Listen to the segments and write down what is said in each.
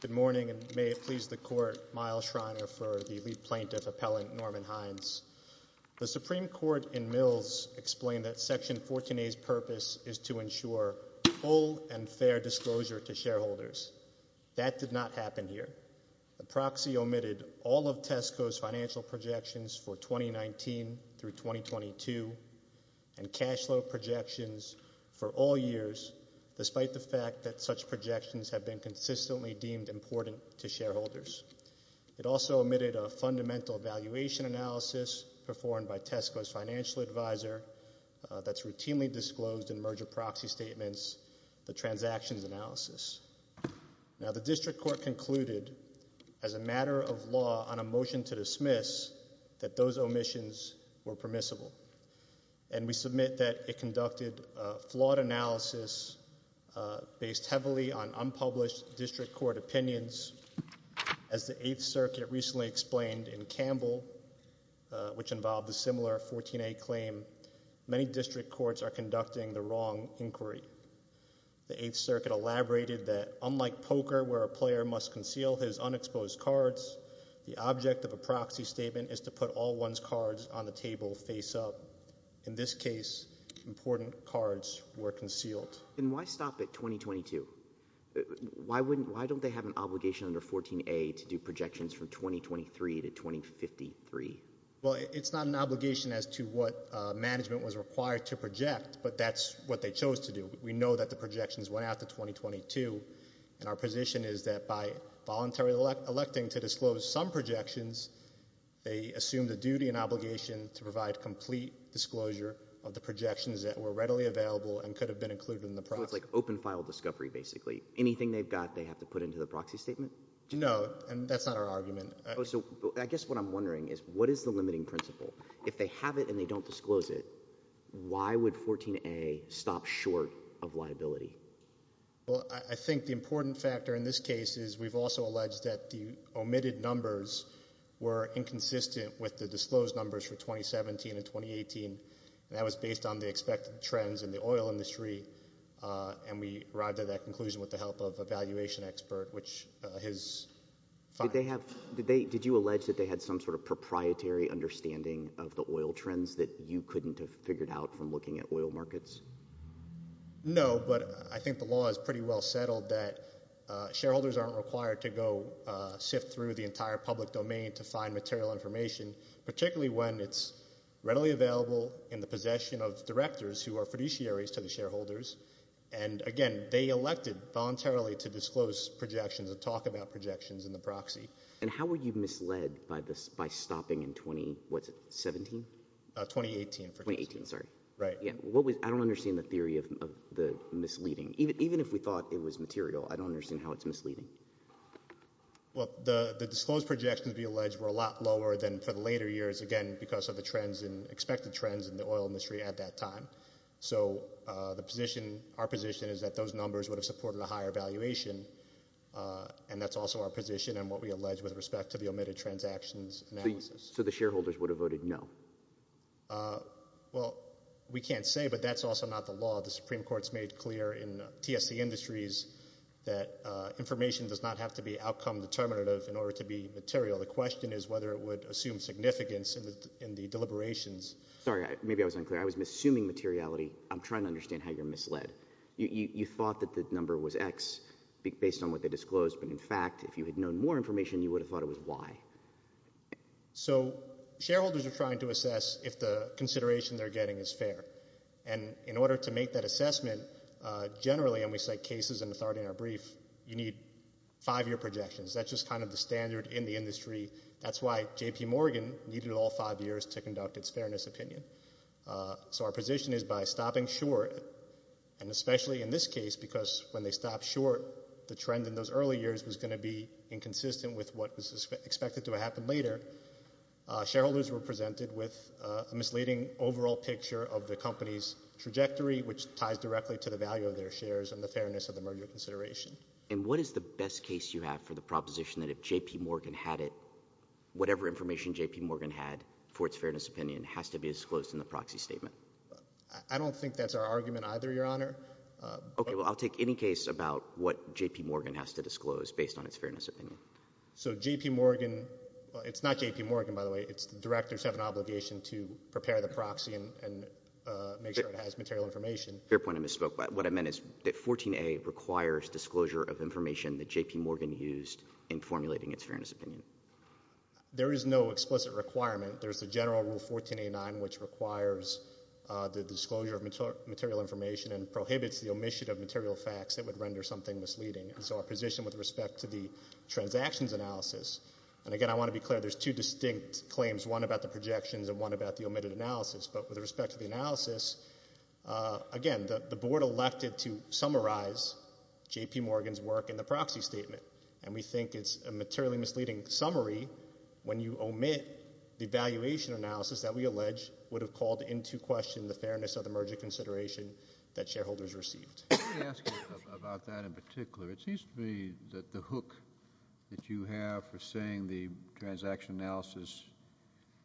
Good morning and may it please the court, Miles Schreiner for the lead plaintiff appellant Norman Hines. The Supreme Court in Mills explained that Section 14A's purpose is to ensure full and fair disclosure to shareholders. That did not happen here. The proxy omitted all of Tesco's financial projections for 2019 through 2022 and cash flow projections for all years despite the fact that such projections have been consistently deemed important to shareholders. It also omitted a fundamental valuation analysis performed by Tesco's financial advisor that's routinely disclosed in merger proxy statements, the transactions analysis. Now the district court concluded as a matter of law on a motion to dismiss that those omissions were permissible. And we submit that it conducted a flawed analysis based heavily on unpublished district court opinions. As the 8th Circuit recently explained in Campbell, which involved a similar 14A claim, many district courts are conducting the wrong inquiry. The 8th Circuit elaborated that unlike poker where a player must conceal his unexposed cards, the object of a proxy statement is to put all one's cards on the table face up. In this case, important cards were concealed. And why stop at 2022? Why wouldn't, why don't they have an obligation under 14A to do projections from 2023 to 2053? Well it's not an obligation as to what management was required to project, but that's what they chose to do. We know that the projections went out to 2022, and our position is that by voluntarily electing to disclose some projections, they assume the duty and obligation to provide complete disclosure of the projections that were readily available and could have been included in the process. So it's like open file discovery basically. Anything they've got they have to put into the proxy statement? No, and that's not our argument. So I guess what I'm wondering is what is the limiting principle? If they have it and they don't disclose it, why would 14A stop short of liability? Well, I think the important factor in this case is we've also alleged that the omitted numbers were inconsistent with the disclosed numbers for 2017 and 2018. That was based on the expected trends in the oil industry, and we arrived at that conclusion with the help of a valuation expert, which his findings. Did you allege that they had some sort of proprietary understanding of the oil trends that you couldn't have figured out from looking at oil markets? No, but I think the law is pretty well settled that shareholders aren't required to go sift through the entire public domain to find material information, particularly when it's readily available in the possession of directors who are fiduciaries to the shareholders. And again, they elected voluntarily to disclose projections and talk about projections in the proxy. And how were you misled by stopping in 2017? 2018. 2018, sorry. Right. Yeah. I don't understand the theory of the misleading. Even if we thought it was material, I don't understand how it's misleading. Well, the disclosed projections, we allege, were a lot lower than for the later years, again, because of the expected trends in the oil industry at that time. So our position is that those numbers would have supported a higher valuation, and that's also our position and what we allege with respect to the omitted transactions analysis. So the shareholders would have voted no? Well, we can't say, but that's also not the law. The Supreme Court's made clear in TSC Industries that information does not have to be outcome determinative in order to be material. The question is whether it would assume significance in the deliberations. Sorry, maybe I was unclear. I was assuming materiality. I'm trying to understand how you're misled. You thought that the number was X based on what they disclosed, but in fact, if you had known more information, you would have thought it was Y. So shareholders are trying to assess if the consideration they're getting is fair, and in order to make that assessment, generally, and we cite cases and authority in our brief, you need five-year projections. That's just kind of the standard in the industry. That's why J.P. Morgan needed all five years to conduct its fairness opinion. So our position is by stopping short, and especially in this case, because when they stopped short, the trend in those early years was going to be inconsistent with what was expected to happen later, shareholders were presented with a misleading overall picture of the company's trajectory, which ties directly to the value of their shares and the fairness of the merger consideration. And what is the best case you have for the proposition that if J.P. Morgan had it, whatever information J.P. Morgan had for its fairness opinion has to be disclosed in the proxy statement? I don't think that's our argument either, Your Honor. Okay, well, I'll take any case about what J.P. Morgan has to disclose based on its fairness opinion. So J.P. Morgan, it's not J.P. Morgan, by the way, it's the directors have an obligation to prepare the proxy and make sure it has material information. Fair point, I misspoke. What I meant is that 14A requires disclosure of information that J.P. Morgan used in formulating its fairness opinion. There is no explicit requirement. There's the general rule 14A9, which requires the disclosure of material information and prohibits the omission of material facts that would render something misleading. And so our position with respect to the transactions analysis, and again, I want to be clear, there's two distinct claims, one about the projections and one about the omitted analysis. But with respect to the analysis, again, the board elected to summarize J.P. Morgan's work in the proxy statement. And we think it's a materially misleading summary when you omit the valuation analysis that we allege would have called into question the fairness of the merger consideration that shareholders received. Let me ask you about that in particular. It seems to me that the hook that you have for saying the transaction analysis,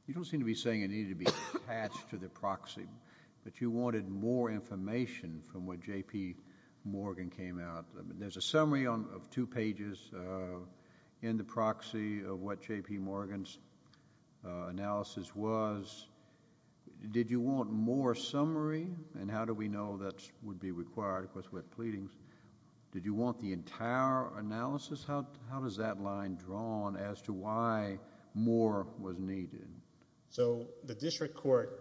you don't seem to be saying it needed to be attached to the proxy, but you wanted more information from what J.P. Morgan came out. There's a summary of two pages in the proxy of what J.P. Morgan's analysis was. Did you want more summary? And how do we know that would be required? Of course, we have pleadings. Did you want the entire analysis? How does that line draw on as to why more was needed? So the district court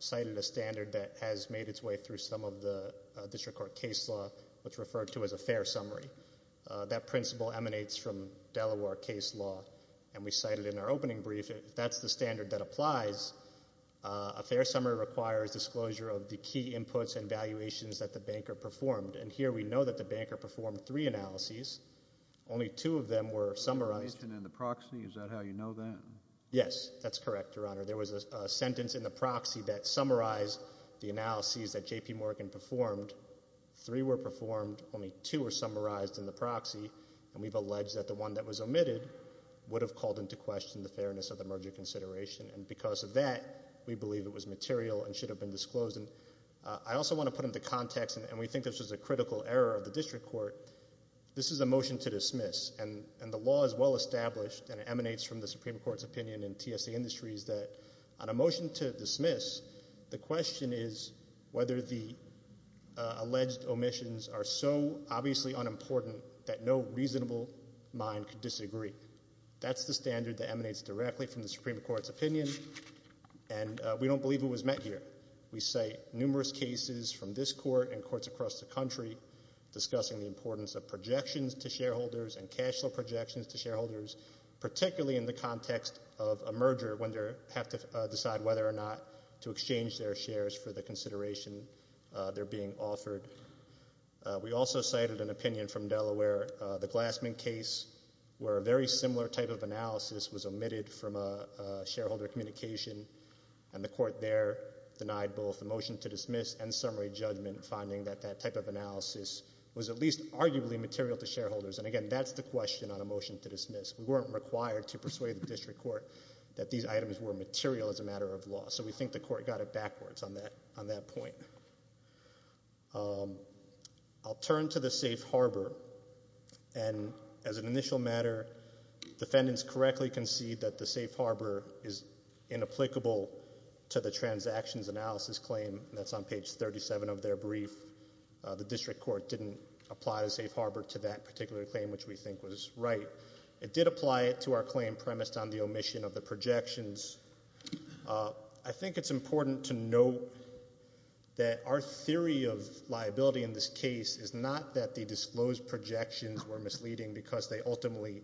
cited a standard that has made its way through some of the district court case law that's referred to as a fair summary. That principle emanates from Delaware case law, and we cited it in our opening brief. If that's the standard that applies, a fair summary requires disclosure of the key inputs and valuations that the banker performed. And here we know that the banker performed three analyses. Only two of them were summarized. You mentioned in the proxy, is that how you know that? Yes, that's correct, Your Honor. There was a sentence in the proxy that summarized the analyses that J.P. Morgan performed. Three were performed. Only two were summarized in the proxy, and we've alleged that the one that was omitted would have called into question the fairness of the merger consideration. And because of that, we believe it was material and should have been disclosed. I also want to put into context, and we think this was a critical error of the district court, this is a motion to dismiss. And the law is well established, and it emanates from the Supreme Court's opinion in TSA Industries that on a motion to dismiss, the question is whether the alleged omissions are so obviously unimportant that no reasonable mind could disagree. That's the standard that emanates directly from the Supreme Court's opinion, and we don't believe it was met here. We cite numerous cases from this court and courts across the country discussing the importance of projections to shareholders and cash flow projections to shareholders, particularly in the context of a merger when they have to decide whether or not to exchange their shares for the consideration they're being offered. We also cited an opinion from Delaware, the Glassman case, where a very similar type of analysis was omitted from a shareholder communication, and the court there denied both the motion to dismiss and summary judgment, finding that that type of analysis was at least arguably material to shareholders. And again, that's the question on a motion to dismiss. We weren't required to persuade the district court that these items were material as a matter of law, so we think the court got it backwards on that point. I'll turn to the safe harbor, and as an initial matter, defendants correctly concede that the safe harbor is inapplicable to the transactions analysis claim. That's on page 37 of their brief. The district court didn't apply the safe harbor to that particular claim, which we think was right. It did apply it to our claim premised on the omission of the projections. I think it's important to note that our theory of liability in this case is not that the disclosed projections were misleading because they ultimately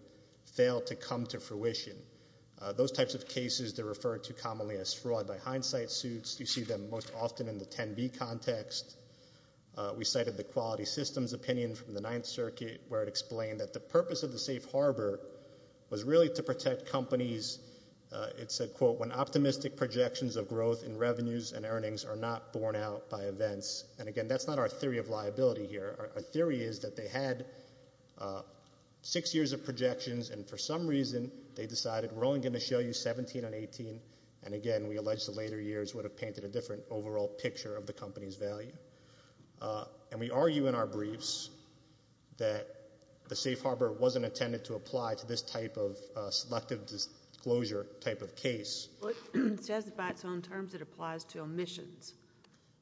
failed to come to fruition. Those types of cases, they're referred to commonly as fraud by hindsight suits. You see them most often in the 10B context. We cited the quality systems opinion from the Ninth Circuit, where it explained that the purpose of the safe harbor was really to protect companies, it said, quote, when optimistic projections of growth in revenues and earnings are not borne out by events. And again, that's not our theory of liability here. Our theory is that they had six years of projections, and for some reason, they decided we're only going to show you 17 and 18, and again, we allege the later years would have painted a different overall picture of the company's value. And we argue in our briefs that the safe harbor wasn't intended to apply to this type of selective disclosure type of case. But it says by its own terms it applies to omissions.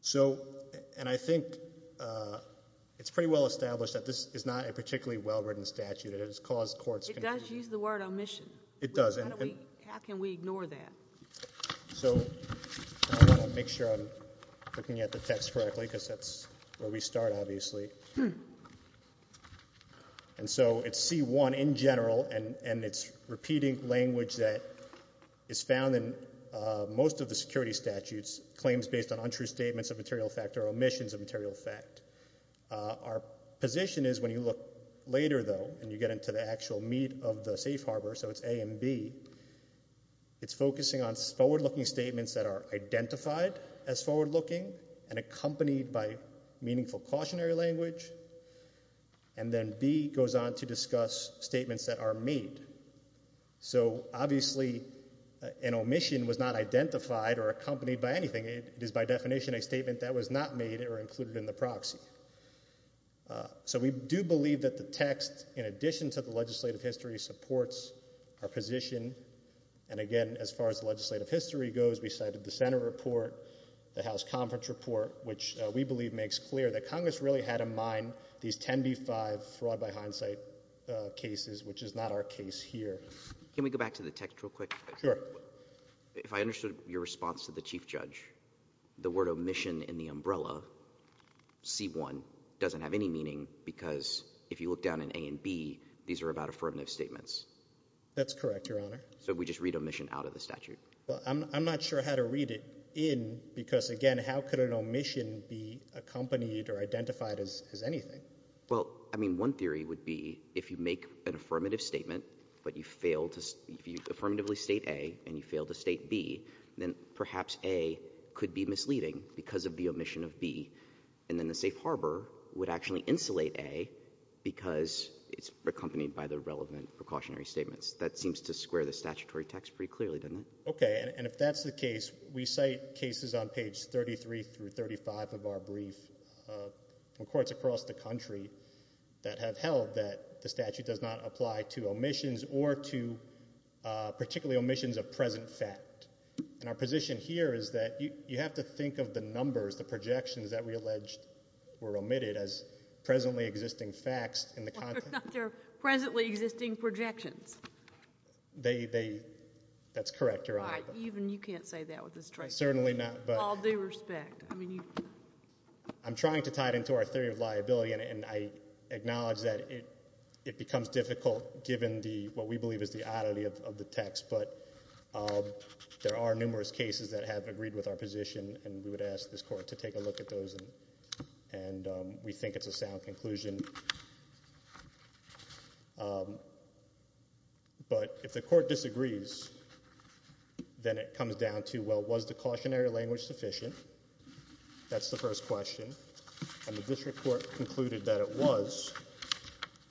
So and I think it's pretty well established that this is not a particularly well-written statute. It has caused courts. It does use the word omission. It does. How can we ignore that? So I want to make sure I'm looking at the text correctly, because that's where we start, obviously. And so it's C1 in general, and it's repeating language that is found in most of the security statutes, claims based on untrue statements of material fact or omissions of material fact. Our position is when you look later, though, and you get into the actual meat of the safe B, it's focusing on forward-looking statements that are identified as forward-looking and accompanied by meaningful cautionary language. And then B goes on to discuss statements that are made. So obviously an omission was not identified or accompanied by anything. It is by definition a statement that was not made or included in the proxy. So we do believe that the text, in addition to the legislative history, supports our position. And again, as far as the legislative history goes, we cited the Senate report, the House Conference report, which we believe makes clear that Congress really had in mind these 10B-5 fraud by hindsight cases, which is not our case here. Can we go back to the text real quick? Sure. If I understood your response to the Chief Judge, the word omission in the umbrella, C-1, doesn't have any meaning because if you look down in A and B, these are about affirmative statements. That's correct, Your Honor. So we just read omission out of the statute? Well, I'm not sure how to read it in because, again, how could an omission be accompanied or identified as anything? Well, I mean, one theory would be if you make an affirmative statement, but you fail to — if you affirmatively state A and you fail to state B, then perhaps A could be misleading because of the omission of B. And then the safe harbor would actually insulate A because it's accompanied by the relevant precautionary statements. That seems to square the statutory text pretty clearly, doesn't it? Okay. And if that's the case, we cite cases on page 33 through 35 of our brief in courts across the country that have held that the statute does not apply to omissions or to particularly omissions of present fact. And our position here is that you have to think of the numbers, the projections that we allege were omitted as presently existing facts in the context — Well, they're not — they're presently existing projections. They — that's correct, Your Honor. Right. Even you can't say that with this traitor. Certainly not, but — All due respect. I mean, you — I'm trying to tie it into our theory of liability, and I acknowledge that it becomes difficult given the — what we believe is the oddity of the text. But there are numerous cases that have agreed with our position, and we would ask this court to take a look at those, and we think it's a sound conclusion. But if the court disagrees, then it comes down to, well, was the cautionary language sufficient? That's the first question. And the district court concluded that it was,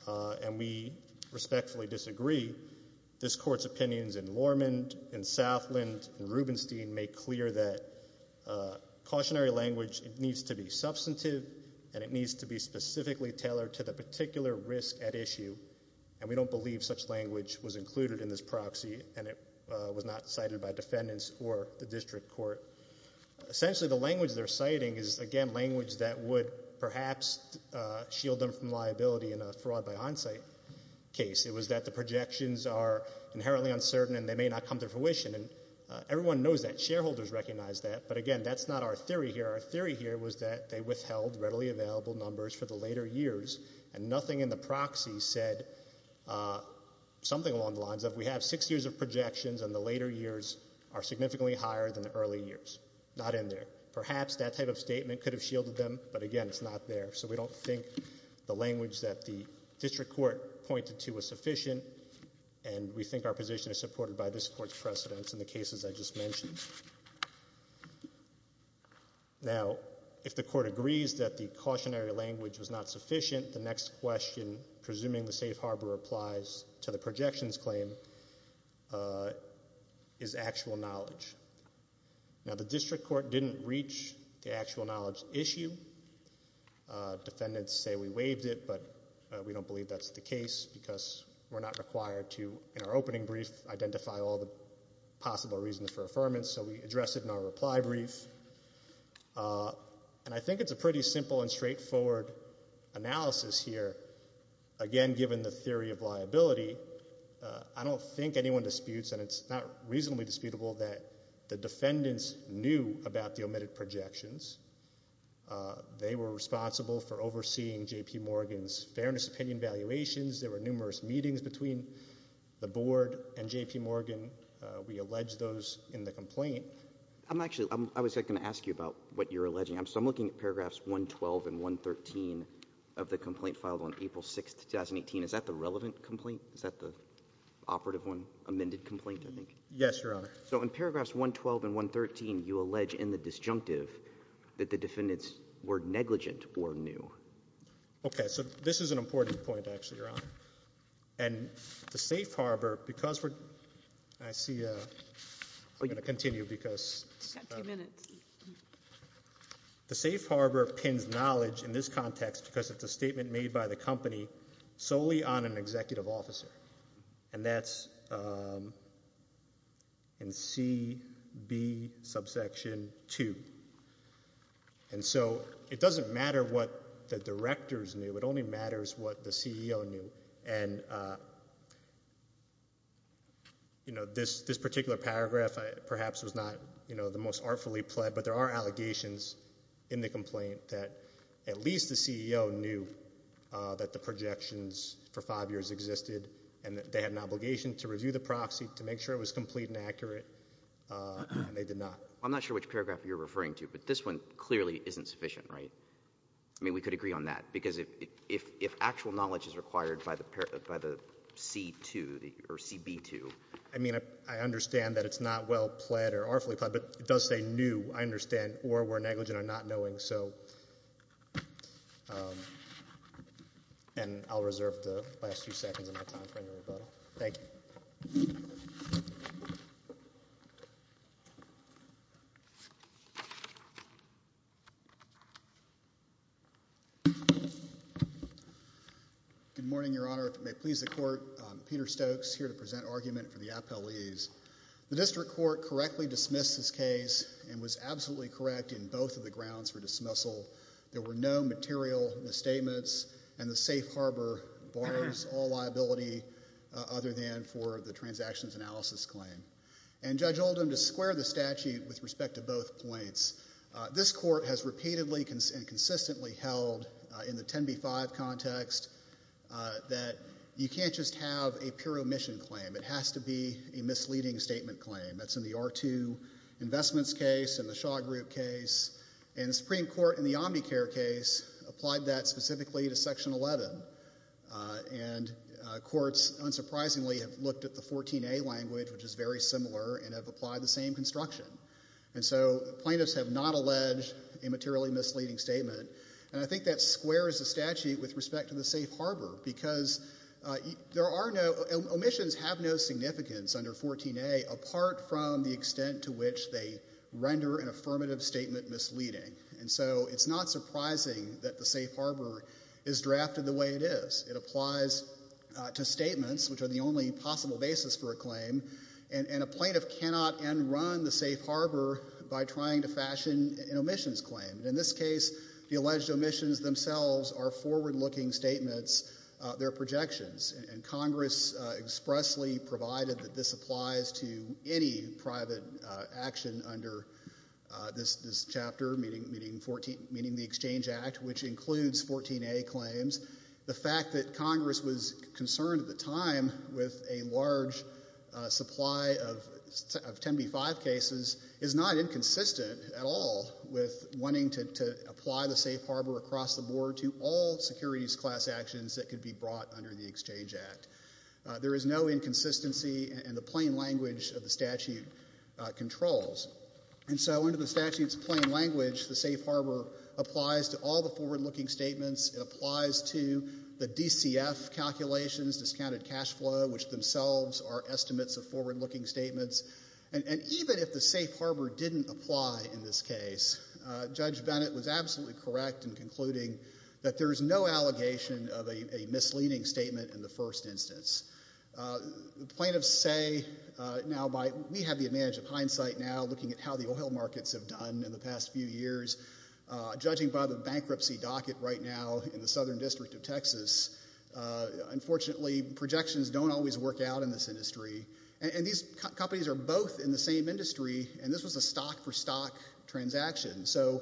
and we respectfully disagree. This court's opinions in Lormond, in Southland, in Rubenstein make clear that cautionary language, it needs to be substantive, and it needs to be specifically tailored to the particular risk at issue. And we don't believe such language was included in this proxy, and it was not cited by defendants or the district court. Essentially, the language they're citing is, again, language that would perhaps shield them from liability in a fraud by onsite case. It was that the projections are inherently uncertain, and they may not come to fruition. And everyone knows that. Shareholders recognize that. But again, that's not our theory here. Our theory here was that they withheld readily available numbers for the later years, and nothing in the proxy said something along the lines of, we have six years of projections, and the later years are significantly higher than the early years. Not in there. Perhaps that type of statement could have shielded them, but again, it's not there. So we don't think the language that the district court pointed to was sufficient, and we think our position is supported by this court's precedence in the cases I just mentioned. Now, if the court agrees that the cautionary language was not sufficient, the next question, presuming the safe harbor applies to the projections claim, is actual knowledge. Now, the district court didn't reach the actual knowledge issue. Defendants say we waived it, but we don't believe that's the case, because we're not required to, in our opening brief, identify all the possible reasons for affirmance, so we address it in our reply brief. And I think it's a pretty simple and straightforward analysis here, again, given the theory of liability. I don't think anyone disputes, and it's not reasonably disputable, that the defendants knew about the omitted projections. They were responsible for overseeing J.P. Morgan's fairness opinion valuations. There were numerous meetings between the board and J.P. Morgan. We allege those in the complaint. I'm actually, I was going to ask you about what you're alleging. So I'm looking at paragraphs 112 and 113 of the complaint filed on April 6th, 2018. Is that the relevant complaint? Is that the operative one, amended complaint, I think? Yes, your honor. So in paragraphs 112 and 113, you allege in the disjunctive that the defendants were negligent or knew. Okay, so this is an important point, actually, your honor. And the safe harbor, because we're, I see a, I'm going to continue because. You've got two minutes. The safe harbor pins knowledge in this context because it's a statement made by the company solely on an executive officer. And that's in C, B, subsection 2. And so it doesn't matter what the directors knew, it only matters what the CEO knew. And this particular paragraph, perhaps, was not the most artfully pled, but there are allegations in the complaint that at least the CEO knew that the projections for five years existed and that they had an obligation to review the proxy to make sure it was complete and accurate, and they did not. I'm not sure which paragraph you're referring to, but this one clearly isn't sufficient, right? I mean, we could agree on that, because if actual knowledge is required by the C2, or CB2. I mean, I understand that it's not well pled or artfully pled, but it does say new, I understand, or we're negligent or not knowing, so. And I'll reserve the last few seconds of my time for any rebuttal. Thank you. Good morning, Your Honor. If it may please the court, Peter Stokes, here to present argument for the appellees. The district court correctly dismissed this case and was absolutely correct in both of the grounds for dismissal. There were no material misstatements, and the safe harbor borrows all liability other than for the transactions analysis claim. And Judge Oldham, to square the statute with respect to both points, this court has repeatedly and consistently held in the 10B5 context that you can't just have a pure omission claim. It has to be a misleading statement claim. That's in the R2 investments case and the Shaw Group case. And the Supreme Court in the Omnicare case applied that specifically to section 11. And courts, unsurprisingly, have looked at the 14A language, which is very similar, and have applied the same construction. And so plaintiffs have not alleged a materially misleading statement. And I think that squares the statute with respect to the safe harbor because there are no, omissions have no significance under 14A apart from the extent to which they render an affirmative statement misleading. And so it's not surprising that the safe harbor is drafted the way it is. It applies to statements, which are the only possible basis for a claim. And a plaintiff cannot end run the safe harbor by trying to fashion an omissions claim. In this case, the alleged omissions themselves are forward looking statements. They're projections, and Congress expressly provided that this applies to any private action under this chapter, meaning the Exchange Act, which includes 14A claims. The fact that Congress was concerned at the time with a large supply of 10B5 cases is not inconsistent at all with wanting to apply the safe harbor across the board to all securities class actions that could be brought under the Exchange Act. There is no inconsistency and the plain language of the statute controls. And so under the statute's plain language, the safe harbor applies to all the forward looking statements. It applies to the DCF calculations, discounted cash flow, which themselves are estimates of forward looking statements. And even if the safe harbor didn't apply in this case, Judge Bennett was absolutely correct in concluding that there is no allegation of a misleading statement in the first instance. Plaintiffs say, now by, we have the advantage of hindsight now looking at how the oil markets have done in the past few years. Judging by the bankruptcy docket right now in the southern district of Texas, unfortunately projections don't always work out in this industry. And these companies are both in the same industry, and this was a stock for stock transaction. So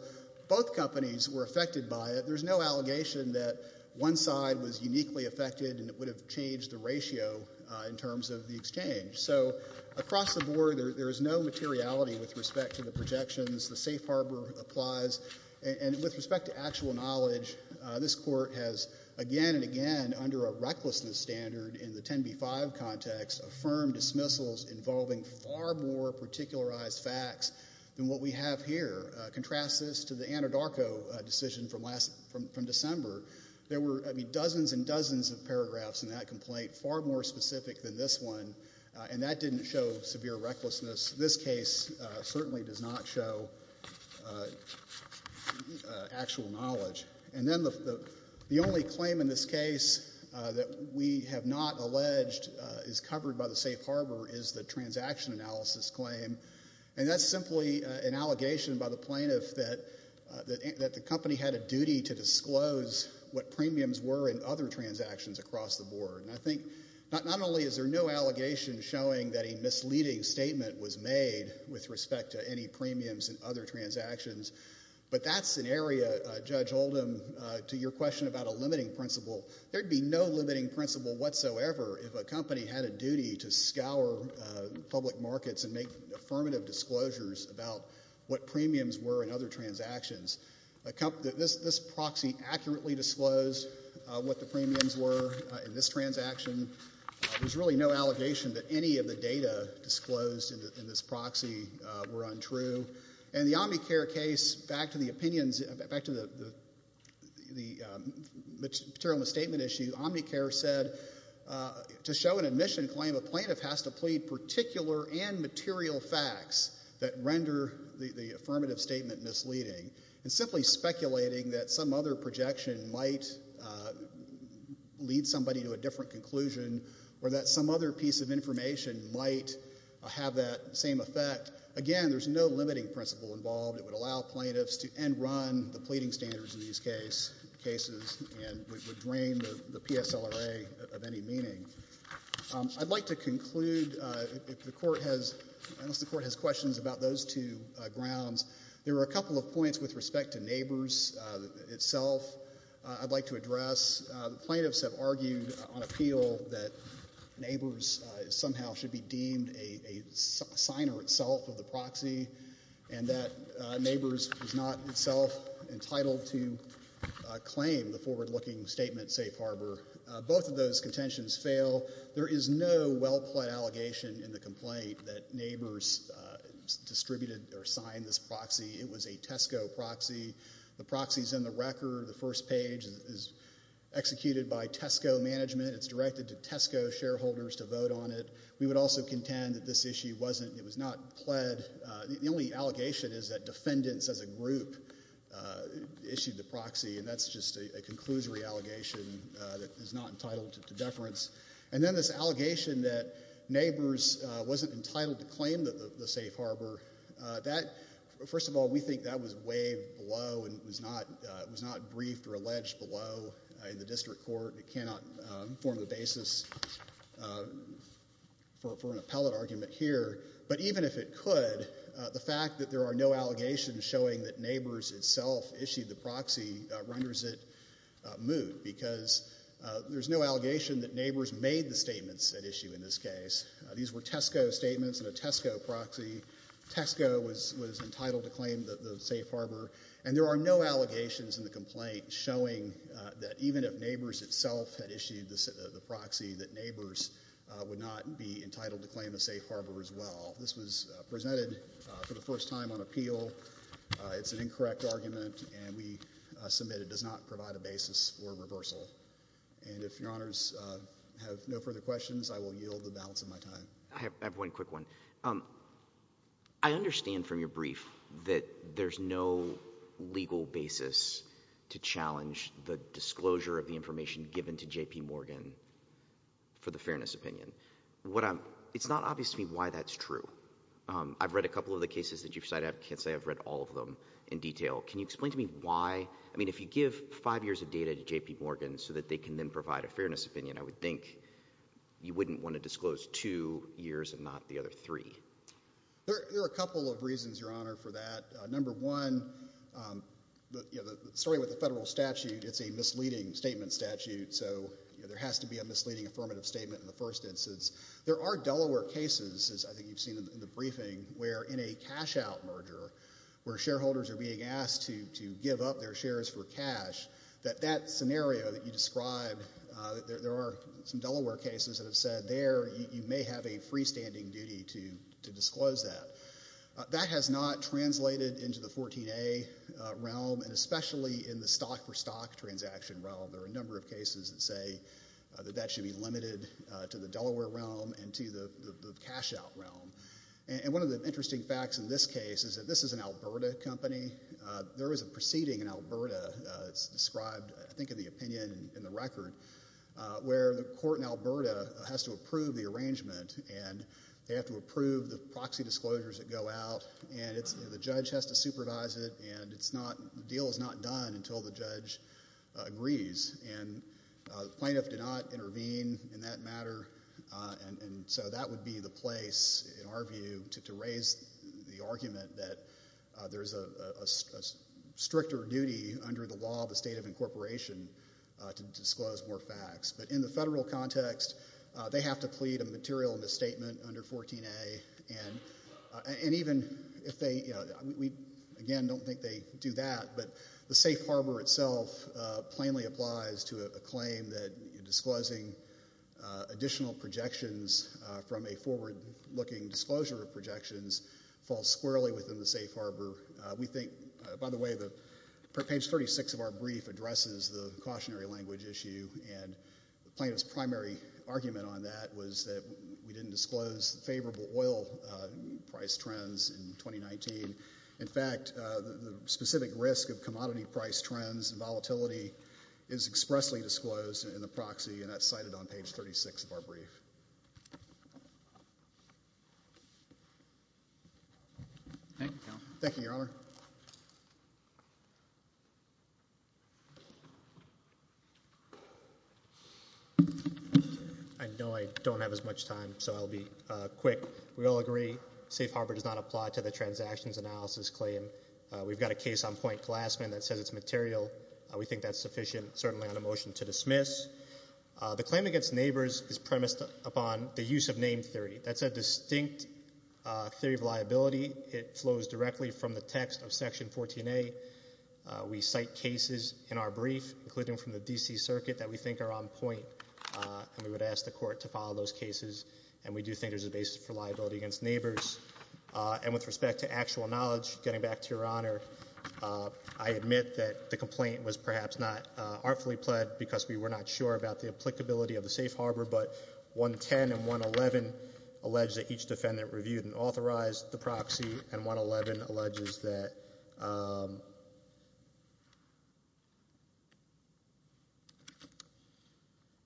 both companies were affected by it. There's no allegation that one side was uniquely affected and it would have changed the ratio in terms of the exchange. So across the board, there is no materiality with respect to the projections. The safe harbor applies. And with respect to actual knowledge, this court has, again and again, under a recklessness standard in the 10B5 context, affirmed dismissals involving far more particularized facts than what we have here. Contrast this to the Anadarko decision from December. There were dozens and dozens of paragraphs in that complaint, far more specific than this one, and that didn't show severe recklessness. This case certainly does not show actual knowledge. And then the only claim in this case that we have not alleged is covered by the safe harbor is the transaction analysis claim. And that's simply an allegation by the plaintiff that the company had a duty to disclose what premiums were in other transactions across the board. And I think, not only is there no allegation showing that a misleading statement was made with respect to any premiums in other transactions, but that's an area, Judge Oldham, to your question about a limiting principle. There'd be no limiting principle whatsoever if a company had a duty to scour public markets and make affirmative disclosures about what premiums were in other transactions. This proxy accurately disclosed what the premiums were in this transaction. There's really no allegation that any of the data disclosed in this proxy were untrue. And the Omnicare case, back to the material misstatement issue, Omnicare said to show an admission claim, a plaintiff has to plead particular and material facts that render the affirmative statement misleading. And simply speculating that some other projection might lead somebody to a different conclusion, or that some other piece of information might have that same effect. Again, there's no limiting principle involved. It would allow plaintiffs to end run the pleading standards in these cases and would drain the PSLRA of any meaning. I'd like to conclude if the court has, unless the court has questions about those two grounds. There are a couple of points with respect to Nabors itself I'd like to address. The plaintiffs have argued on appeal that Nabors somehow should be deemed a signer itself of the proxy. And that Nabors is not itself entitled to claim the forward looking statement safe harbor. Both of those contentions fail. There is no well-plaid allegation in the complaint that Nabors distributed or signed this proxy. It was a Tesco proxy. The proxy's in the record. The first page is executed by Tesco management. It's directed to Tesco shareholders to vote on it. We would also contend that this issue wasn't, it was not pled. The only allegation is that defendants as a group issued the proxy, and that's just a conclusory allegation that is not entitled to deference. And then this allegation that Nabors wasn't entitled to claim the safe harbor. That, first of all, we think that was waived below and was not briefed or alleged below in the district court. It cannot form the basis for an appellate argument here. But even if it could, the fact that there are no allegations showing that Nabors itself issued the proxy renders it moot. Because there's no allegation that Nabors made the statements at issue in this case. These were Tesco statements and a Tesco proxy. Tesco was entitled to claim the safe harbor. And there are no allegations in the complaint showing that even if Nabors itself had issued the proxy, that Nabors would not be entitled to claim the safe harbor as well. This was presented for the first time on appeal. It's an incorrect argument, and we submit it does not provide a basis for reversal. And if your honors have no further questions, I will yield the balance of my time. I have one quick one. I understand from your brief that there's no legal basis to challenge the disclosure of the information given to JP Morgan for the fairness opinion. What I'm, it's not obvious to me why that's true. I've read a couple of the cases that you've cited, I can't say I've read all of them in detail. Can you explain to me why? I mean, if you give five years of data to JP Morgan so that they can then provide a fairness opinion, I would think you wouldn't want to disclose two years and not the other three. There are a couple of reasons, your honor, for that. Number one, the story with the federal statute, it's a misleading statement statute, so there has to be a misleading affirmative statement in the first instance. There are Delaware cases, as I think you've seen in the briefing, where in a cash-out merger, where shareholders are being asked to give up their shares for cash, that that scenario that you described, there are some Delaware cases that have said, there you may have a freestanding duty to disclose that. That has not translated into the 14A realm, and especially in the stock-for-stock transaction realm. There are a number of cases that say that that should be limited to the Delaware realm and to the cash-out realm. And one of the interesting facts in this case is that this is an Alberta company. There is a proceeding in Alberta, it's described, I think, in the opinion in the record, where the court in Alberta has to approve the arrangement, and they have to approve the proxy disclosures that go out, and the judge has to supervise it, and the deal is not done until the judge agrees. And the plaintiff did not intervene in that matter, and so that would be the place, in our view, to raise the argument that there's a stricter duty under the law of the state of incorporation to disclose more facts. But in the federal context, they have to plead a material misstatement under 14A, and even if they, you know, we again don't think they do that, but the safe harbor itself plainly applies to a claim that disclosing additional projections from a forward-looking disclosure of projections falls squarely within the safe harbor. We think, by the way, page 36 of our brief addresses the cautionary language issue, and the plaintiff's primary argument on that was that we didn't disclose favorable oil price trends in 2019. In fact, the specific risk of commodity price trends and volatility is expressly disclosed in the proxy, and that's cited on page 36 of our brief. Thank you, Your Honor. I know I don't have as much time, so I'll be quick. We all agree safe harbor does not apply to the transactions analysis claim. We've got a case on Point Glassman that says it's material. We think that's sufficient, certainly on a motion to dismiss. The claim against neighbors is premised upon the use of name theory. That's a distinct theory of liability. It flows directly from the text of section 14A. We cite cases in our brief, including from the D.C. Circuit, that we think are on point, and we would ask the court to follow those cases, and we do think there's a basis for liability against neighbors. And with respect to actual knowledge, getting back to Your Honor, I admit that the complaint was perhaps not artfully pled because we were not sure about the applicability of the safe harbor, but 110 and 111 allege that each defendant reviewed and authorized the proxy, and 111 alleges that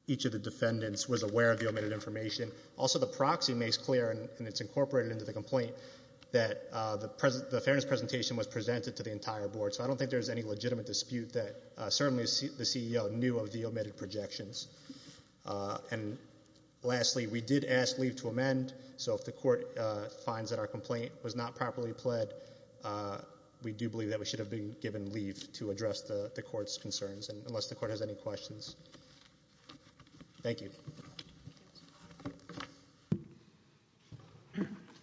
each of the defendants was aware of the omitted information. Also, the proxy makes clear, and it's incorporated into the complaint, that the fairness presentation was presented to the entire board. So I don't think there's any legitimate dispute that certainly the CEO knew of the omitted projections. And lastly, we did ask leave to amend. So if the court finds that our complaint was not properly pled, we do believe that we should have been given leave to address the court's concerns, unless the court has any questions. Thank you.